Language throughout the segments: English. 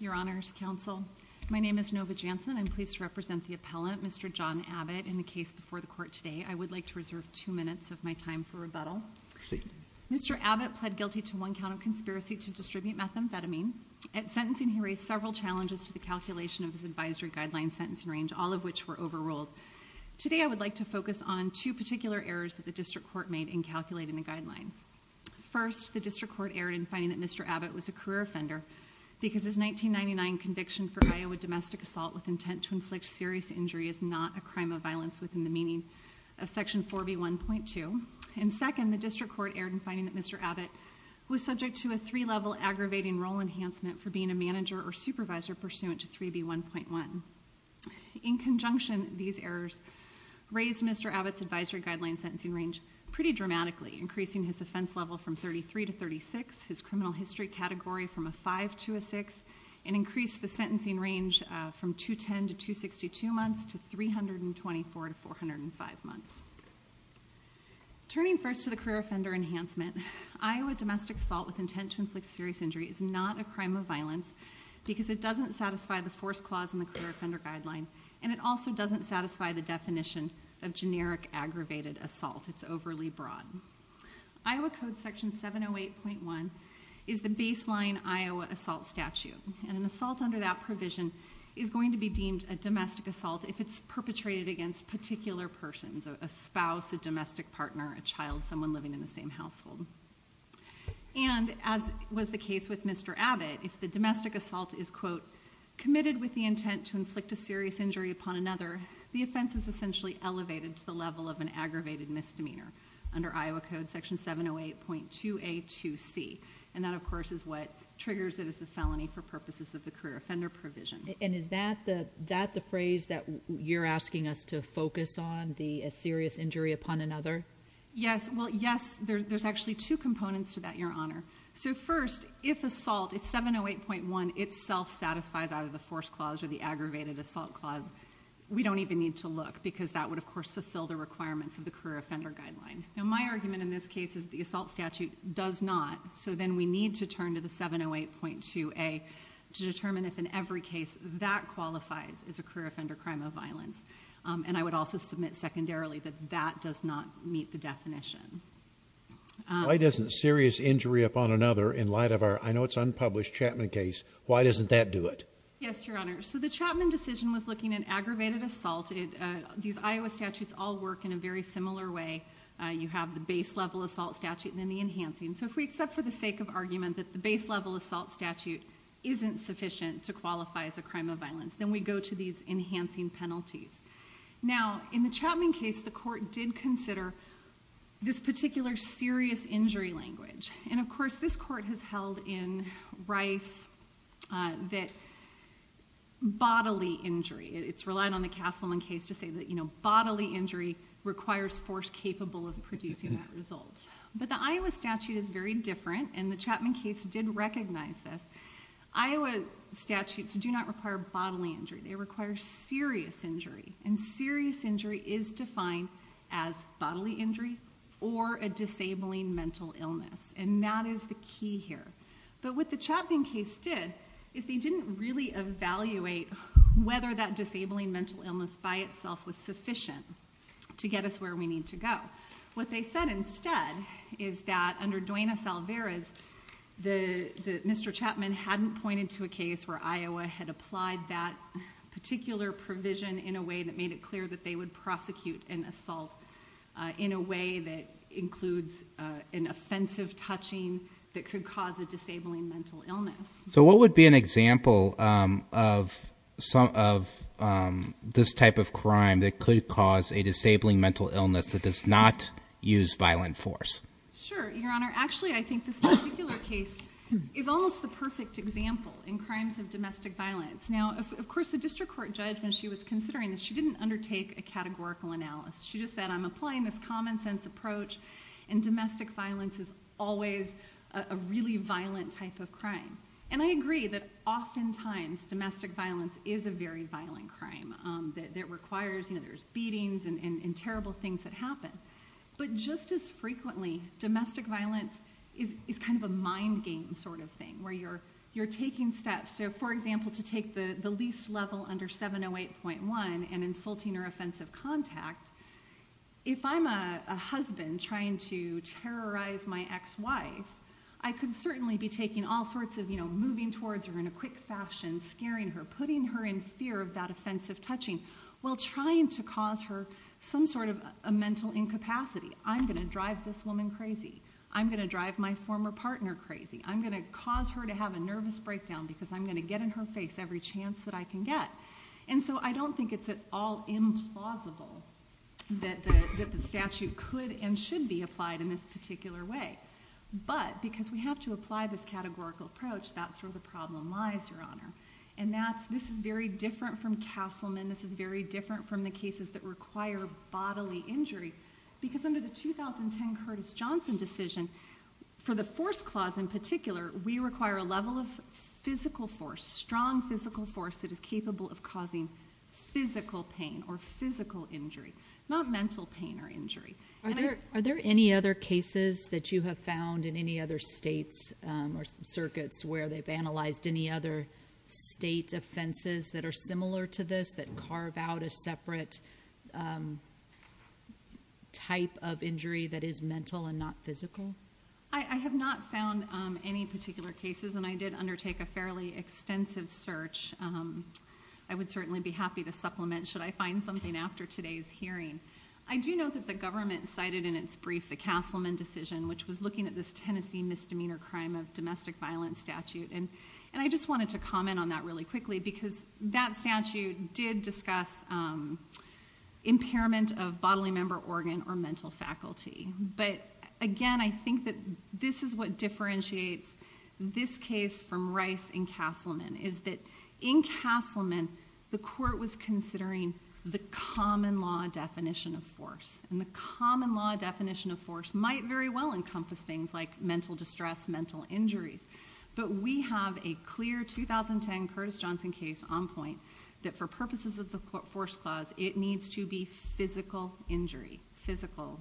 Your Honor's counsel my name is Nova Jansen. I'm pleased to represent the appellant Mr. John Abbott in the case before the court today. I would like to reserve two minutes of my time for rebuttal. Mr. Abbott pled guilty to one count of conspiracy to distribute methamphetamine. At sentencing he raised several challenges to the calculation of his advisory guideline sentencing range all of which were overruled. Today I would like to focus on two particular errors that the district court made in calculating the guideline. First the because his 1999 conviction for Iowa domestic assault with intent to inflict serious injury is not a crime of violence within the meaning of section 4B 1.2. And second the district court erred in finding that Mr. Abbott was subject to a three level aggravating role enhancement for being a manager or supervisor pursuant to 3B 1.1. In conjunction these errors raised Mr. Abbott's advisory guideline sentencing range pretty dramatically increasing his offense level from 33 to 36, his criminal history category from a 5 to a 6 and increased the sentencing range from 210 to 262 months to 324 to 405 months. Turning first to the career offender enhancement Iowa domestic assault with intent to inflict serious injury is not a crime of violence because it doesn't satisfy the force clause in the career offender guideline and it also doesn't satisfy the definition of generic aggravated assault. It's overly And an assault under that provision is going to be deemed a domestic assault if it's perpetrated against particular persons, a spouse, a domestic partner, a child, someone living in the same household. And as was the case with Mr. Abbott if the domestic assault is quote committed with the intent to inflict a serious injury upon another the offense is essentially elevated to the level of an aggravated misdemeanor under Iowa code section 708.2 a 2c and that of triggers it as a felony for purposes of the career offender provision. And is that the that the phrase that you're asking us to focus on the serious injury upon another? Yes well yes there's actually two components to that your honor. So first if assault if 708.1 itself satisfies out of the force clause or the aggravated assault clause we don't even need to look because that would of course fulfill the requirements of the career offender guideline. Now my argument in this case is the assault statute does not so then we need to turn to the 708.2 a to determine if in every case that qualifies as a career offender crime of violence. And I would also submit secondarily that that does not meet the definition. Why doesn't serious injury upon another in light of our I know it's unpublished Chapman case why doesn't that do it? Yes your honor so the Chapman decision was looking at aggravated assault. These Iowa statutes all work in a very similar way. You have the base level assault statute and then enhancing. So if we accept for the sake of argument that the base level assault statute isn't sufficient to qualify as a crime of violence then we go to these enhancing penalties. Now in the Chapman case the court did consider this particular serious injury language and of course this court has held in Rice that bodily injury it's relied on the Castleman case to say that you know bodily injury requires force capable of producing that result. But the Iowa statute is very different and the Chapman case did recognize this. Iowa statutes do not require bodily injury they require serious injury and serious injury is defined as bodily injury or a disabling mental illness and that is the key here. But what the Chapman case did is they didn't really evaluate whether that disabling mental illness by itself was sufficient to get us where we need to go. What they said instead is that under Duenas-Alvarez the Mr. Chapman hadn't pointed to a case where Iowa had applied that particular provision in a way that made it clear that they would prosecute an assault in a way that includes an offensive touching that could cause a disabling mental illness. So what would be an example of some of this type of crime that could cause a disabling mental illness that does not use violent force? Sure, your honor. Actually I think this particular case is almost the perfect example in crimes of domestic violence. Now of course the district court judge when she was considering this she didn't undertake a categorical analysis. She just said I'm applying this common sense approach and domestic violence is always a really violent type of crime. And I agree that oftentimes domestic violence is a very violent crime that requires you know there's beatings and terrible things that happen. But just as frequently domestic violence is kind of a mind game sort of thing where you're you're taking steps. So for example to take the the least level under 708.1 and insulting her offensive contact. If I'm a husband trying to terrorize my ex-wife I could certainly be taking all sorts of you know moving towards her in a quick fashion, scaring her, putting her in fear of that offensive touching while trying to cause her some sort of a mental incapacity. I'm going to drive this woman crazy. I'm going to drive my former partner crazy. I'm going to cause her to have a nervous breakdown because I'm going to get in her face every chance that I can get. And so I don't think it's at all implausible that the statute could and should be applied in this particular way. But because we have to apply this categorical approach that's very different from Castleman. This is very different from the cases that require bodily injury. Because under the 2010 Curtis Johnson decision for the force clause in particular we require a level of physical force, strong physical force that is capable of causing physical pain or physical injury. Not mental pain or injury. Are there any other cases that you have found in any other states or circuits where they've analyzed any other state offenses that are similar to this that carve out a separate type of injury that is mental and not physical? I have not found any particular cases and I did undertake a fairly extensive search. I would certainly be happy to supplement should I find something after today's hearing. I do know that the government cited in its brief the Castleman decision which was looking at this Tennessee misdemeanor crime of domestic violence statute. And I just wanted to comment on that really quickly because that statute did discuss impairment of bodily member organ or mental faculty. But again I think that this is what differentiates this case from Rice and Castleman. Is that in Castleman the court was looking at mental distress, mental injury. But we have a clear 2010 Curtis Johnson case on point that for purposes of the force clause it needs to be physical injury, physical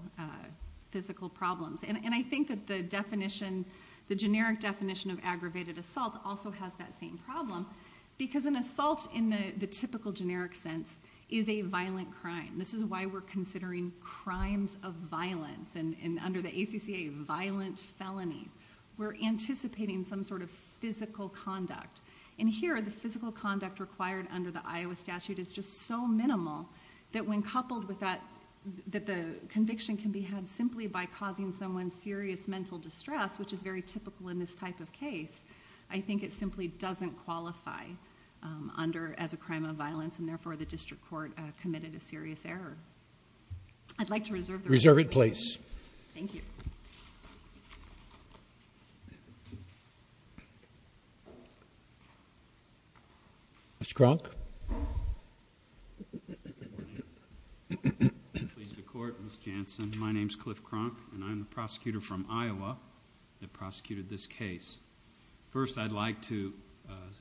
problems. And I think that the definition, the generic definition of aggravated assault also has that same problem. Because an assault in the typical generic sense is a violent crime. This is why we're under the ACCA violent felony. We're anticipating some sort of physical conduct. And here the physical conduct required under the Iowa statute is just so minimal that when coupled with that, that the conviction can be had simply by causing someone serious mental distress which is very typical in this type of case. I think it simply doesn't qualify under as a crime of violence and therefore the district court committed a serious error. I'd like to reserve it to the court. Thank you. Mr. Kronk. Please the court, Ms. Janssen. My name is Cliff Kronk and I'm the prosecutor from Iowa that prosecuted this case. First I'd like to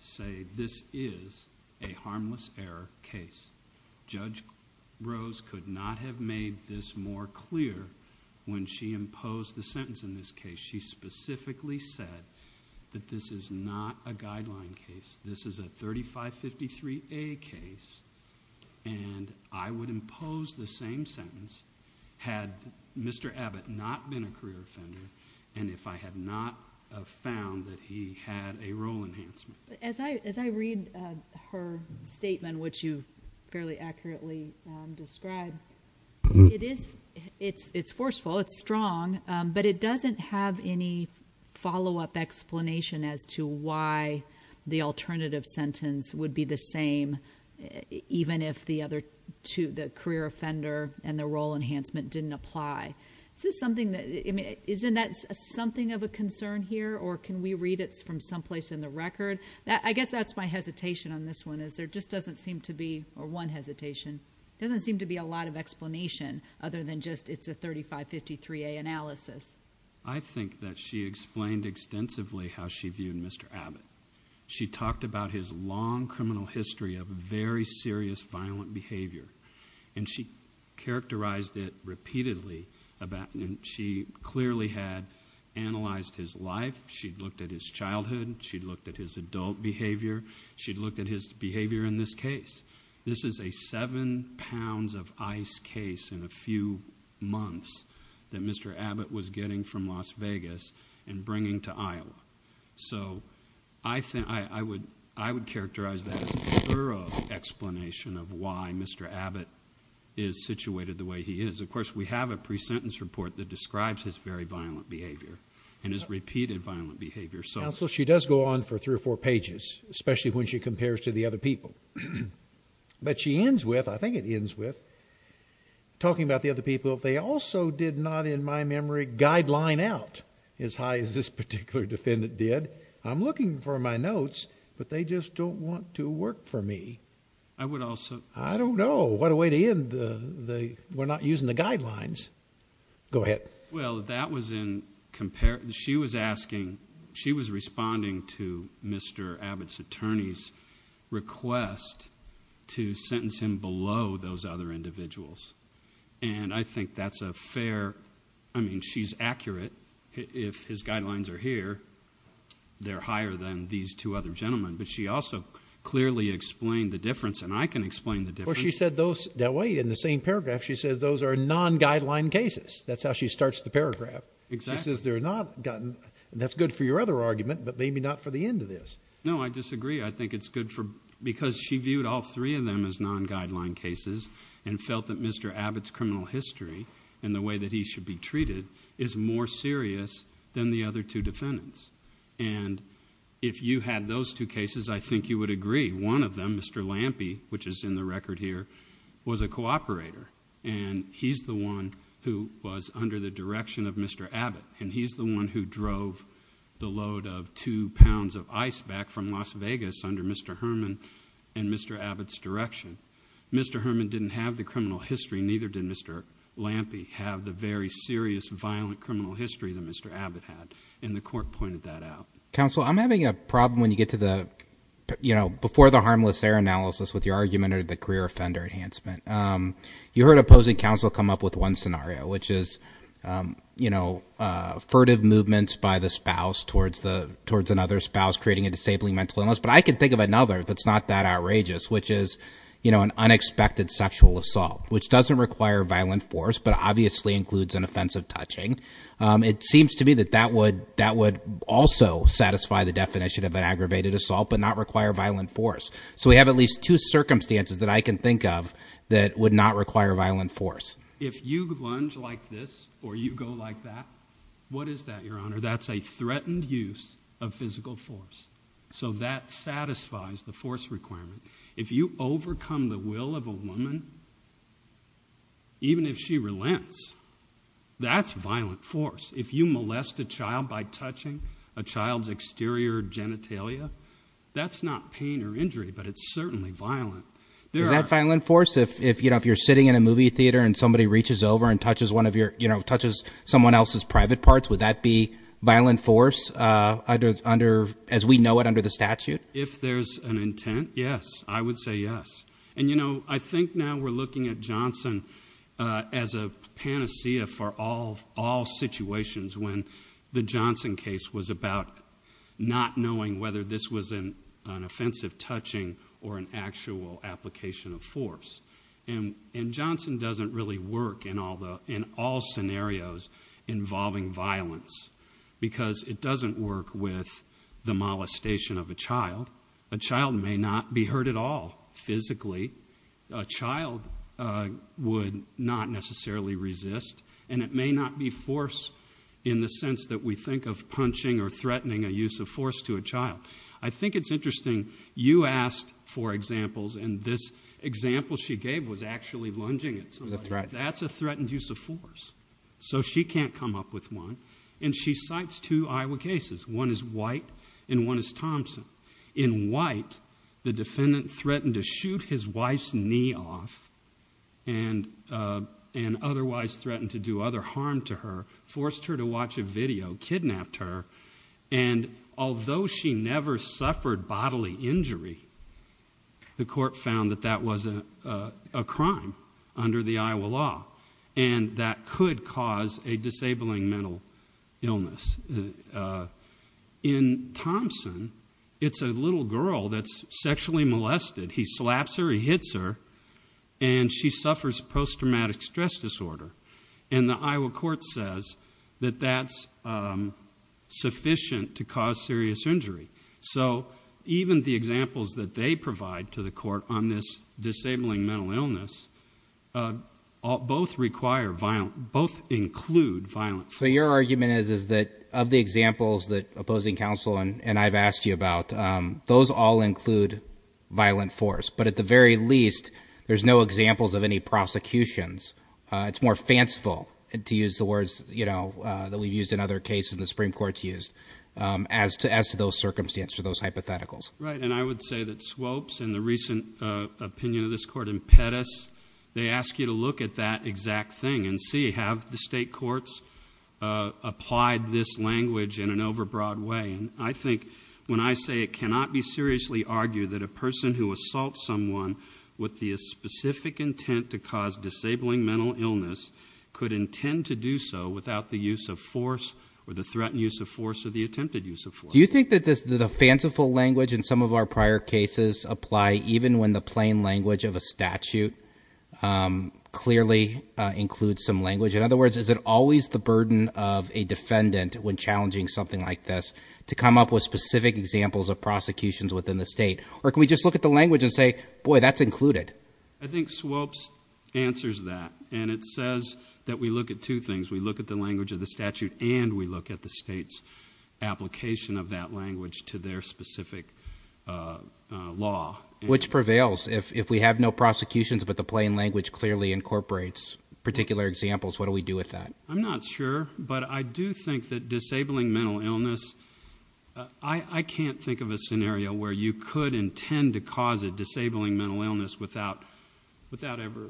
say this is a harmless error case. Judge Rose could not have made this more clear when she imposed the sentence in this case. She specifically said that this is not a guideline case. This is a 3553A case and I would impose the same sentence had Mr. Abbott not been a career offender and if I had not found that he had a role enhancement. As I read her statement which you fairly accurately described, it's forceful, it's strong but it doesn't have any follow up explanation as to why the alternative sentence would be the same even if the career offender and the role enhancement didn't apply. Isn't that something of a concern here or can I guess that's my hesitation on this one is there just doesn't seem to be or one hesitation, doesn't seem to be a lot of explanation other than just it's a 3553A analysis. I think that she explained extensively how she viewed Mr. Abbott. She talked about his long criminal history of very serious violent behavior and she characterized it repeatedly about and she clearly had analyzed his life, she looked at his adult behavior, she looked at his behavior in this case. This is a seven pounds of ice case in a few months that Mr. Abbott was getting from Las Vegas and bringing to Iowa. So I think I would characterize that as a thorough explanation of why Mr. Abbott is situated the way he is. Of course we have a pre-sentence report that describes his very violent behavior and his repeated violent behavior. Counsel, she does go on for three or four pages, especially when she compares to the other people. But she ends with, I think it ends with, talking about the other people. They also did not in my memory guideline out as high as this particular defendant did. I'm looking for my notes but they just don't want to work for me. I would also... I don't know. What a way to end the... we're not using the guidelines. Go ahead. Well, that was in... she was asking... she was responding to Mr. Abbott's attorney's request to sentence him below those other individuals. And I think that's a fair... I mean, she's accurate. If his guidelines are here, they're higher than these two other gentlemen. But she also clearly explained the difference and I can explain the difference. Well, she said those... wait, in the same paragraph she said those are non-guideline cases. That's how she starts the paragraph. Exactly. She says they're not... and that's good for your other argument but maybe not for the end of this. No, I disagree. I think it's good for... because she viewed all three of them as non-guideline cases and felt that Mr. Abbott's criminal history and the way that he should be treated is more serious than the other two defendants. And if you had those two cases, I think you would agree one of them, Mr. Lampe, which is in the record here, was a cooperator. And he's the one who was under the direction of Mr. Abbott. And he's the one who drove the load of two pounds of ice back from Las Vegas under Mr. Herman and Mr. Abbott's direction. Mr. Herman didn't have the criminal history, neither did Mr. Lampe have the very serious violent criminal history that Mr. Abbott had. And the court pointed that out. Counsel, I'm having a problem when you get to the... you know, before the harmless error analysis with your argument or the career offender enhancement, you heard opposing counsel come up with one scenario, which is, you know, furtive movements by the spouse towards another spouse creating a disabling mental illness. But I can think of another that's not that outrageous, which is, you know, an unexpected sexual assault, which doesn't require violent force but obviously includes an offensive touching. It seems to me that that would also satisfy the definition of an aggravated assault but not require violent force. So we have at least two circumstances that I can think of that would not require violent force. If you lunge like this or you go like that, what is that, Your Honor? That's a threatened use of physical force. So that satisfies the force requirement. If you overcome the will of a woman, even if she relents, that's violent force. If you molest a child by touching a child's exterior genitalia, that's not pain or injury, but it's certainly violent. Is that violent force? If, you know, if you're sitting in a movie theater and somebody reaches over and touches one of your... you know, touches someone else's private parts, would that be violent force under... as we know it under the statute? If there's an intent, yes. I would say yes. And, you know, I think now we're looking at Johnson as a panacea for all situations when the Johnson case was about not knowing whether this was an offensive touching or an actual application of force. And Johnson doesn't really work in all scenarios involving violence because it doesn't work with the molestation of a child. A child may not be hurt at all physically. A child would not necessarily resist, and it may not be force in the sense that we think of punching or threatening a use of force to a child. I think it's interesting. You asked for examples, and this example she gave was actually lunging at somebody. That's a threatened use of force. So she can't come up with one, and she cites two In White, the defendant threatened to shoot his wife's knee off and otherwise threatened to do other harm to her, forced her to watch a video, kidnapped her. And although she never suffered bodily injury, the court found that that was a crime under the Iowa law, and that could cause a disabling mental illness. In Thompson, it's a little girl that's sexually molested. He slaps her, he hits her, and she suffers post-traumatic stress disorder. And the Iowa court says that that's sufficient to cause serious injury. So even the examples that they provide to the court on this violence. So your argument is that of the examples that opposing counsel and I've asked you about, those all include violent force. But at the very least, there's no examples of any prosecutions. It's more fanciful, to use the words that we've used in other cases in the Supreme Court to use, as to those circumstances or those hypotheticals. Right. And I would say that swopes and the recent opinion of this court impetus, they ask you to look at that exact thing and see, have the state courts applied this language in an overbroad way? And I think when I say it cannot be seriously argued that a person who assaults someone with the specific intent to cause disabling mental illness could intend to do so without the use of force or the threatened use of force or the attempted use of force. Do you think that the fanciful language in some of our In other words, is it always the burden of a defendant when challenging something like this to come up with specific examples of prosecutions within the state? Or can we just look at the language and say, boy, that's included? I think swopes answers that. And it says that we look at two things. We look at the language of the statute and we look at the state's application of that language to their specific law. Which prevails if we have no prosecutions, but the plain language clearly incorporates particular examples. What do we do with that? I'm not sure, but I do think that disabling mental illness, I can't think of a scenario where you could intend to cause a disabling mental illness without ever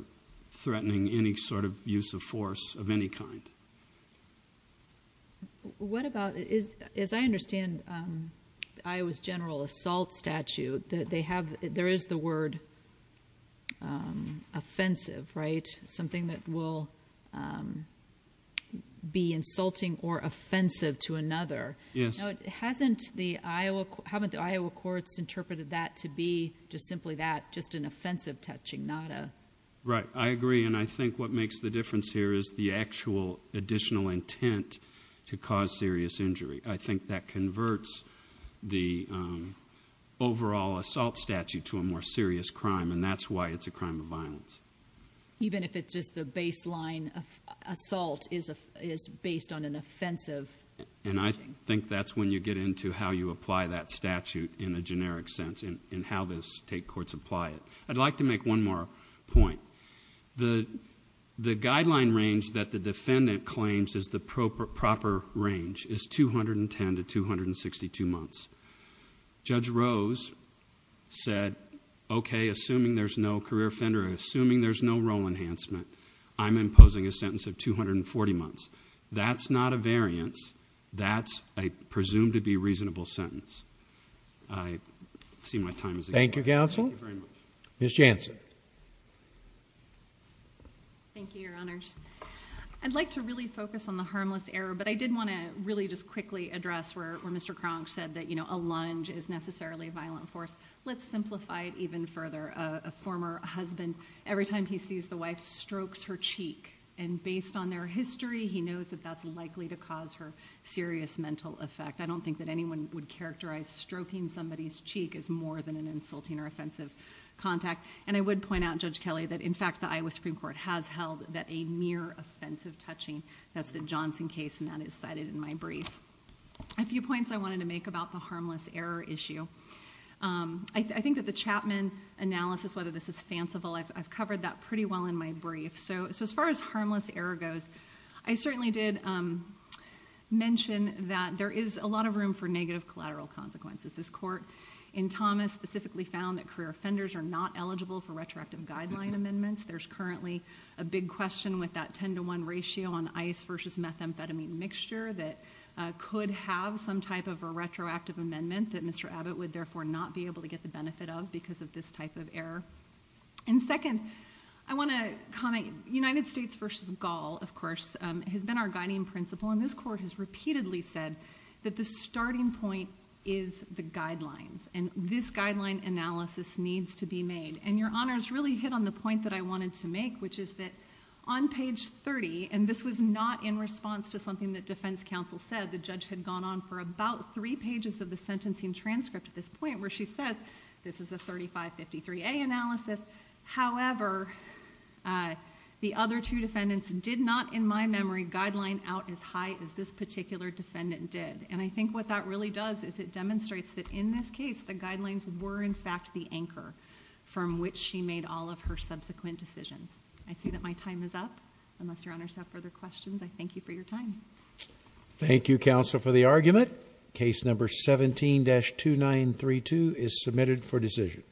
threatening any sort of use of force of any kind. What about, as I understand Iowa's general assault statute, there is the word offensive, right? Something that will be insulting or offensive to another. Yes. Hasn't the Iowa, haven't the Iowa courts interpreted that to be just simply that, just an offensive touching, not a... Right. I agree. And I think what makes the difference here is the actual additional intent to cause serious injury. I think that converts the overall assault statute to a more serious crime and that's why it's a crime of violence. Even if it's just the baseline assault is based on an offensive... And I think that's when you get into how you apply that statute in a generic sense and how the state courts apply it. I'd like to make one more point. The guideline range that the proper range is 210 to 262 months. Judge Rose said, okay, assuming there's no career offender, assuming there's no role enhancement, I'm imposing a sentence of 240 months. That's not a variance. That's a presumed to be reasonable sentence. I see my time is... Thank you, counsel. Thank you very much. Ms. Jansen. Thank you, your honors. I'd like to really focus on the harmless error, but I did want to really just quickly address where Mr. Kronk said that a lunge is necessarily a violent force. Let's simplify it even further. A former husband, every time he sees the wife strokes her cheek and based on their history, he knows that that's likely to cause her serious mental effect. I don't think that anyone would characterize stroking somebody's cheek as more than an insulting or offensive behavior. I would point out, Judge Kelly, that in fact, the Iowa Supreme Court has held that a mere offensive touching. That's the Johnson case and that is cited in my brief. A few points I wanted to make about the harmless error issue. I think that the Chapman analysis, whether this is fanciful, I've covered that pretty well in my brief. As far as harmless error goes, I certainly did mention that there is a lot of room for negative collateral consequences. This amendment, there's currently a big question with that 10 to 1 ratio on ice versus methamphetamine mixture that could have some type of a retroactive amendment that Mr. Abbott would therefore not be able to get the benefit of because of this type of error. Second, I want to comment United States versus Gall, of course, has been our guiding principle and this court has repeatedly said that the starting point is the guidelines and this guideline analysis needs to be made. Your Honor's really hit on the point that I wanted to make, which is that on page 30, and this was not in response to something that defense counsel said, the judge had gone on for about three pages of the sentencing transcript at this point where she said, this is a 3553A analysis. However, the other two defendants did not, in my memory, guideline out as high as this particular defendant did. I think what that really does is it demonstrates that in this case, the guidelines were, in fact, the anchor from which she made all of her subsequent decisions. I see that my time is up. Unless Your Honor has further questions, I thank you for your time. Thank you, counsel, for the argument. Case number 17-2932 is submitted for decision.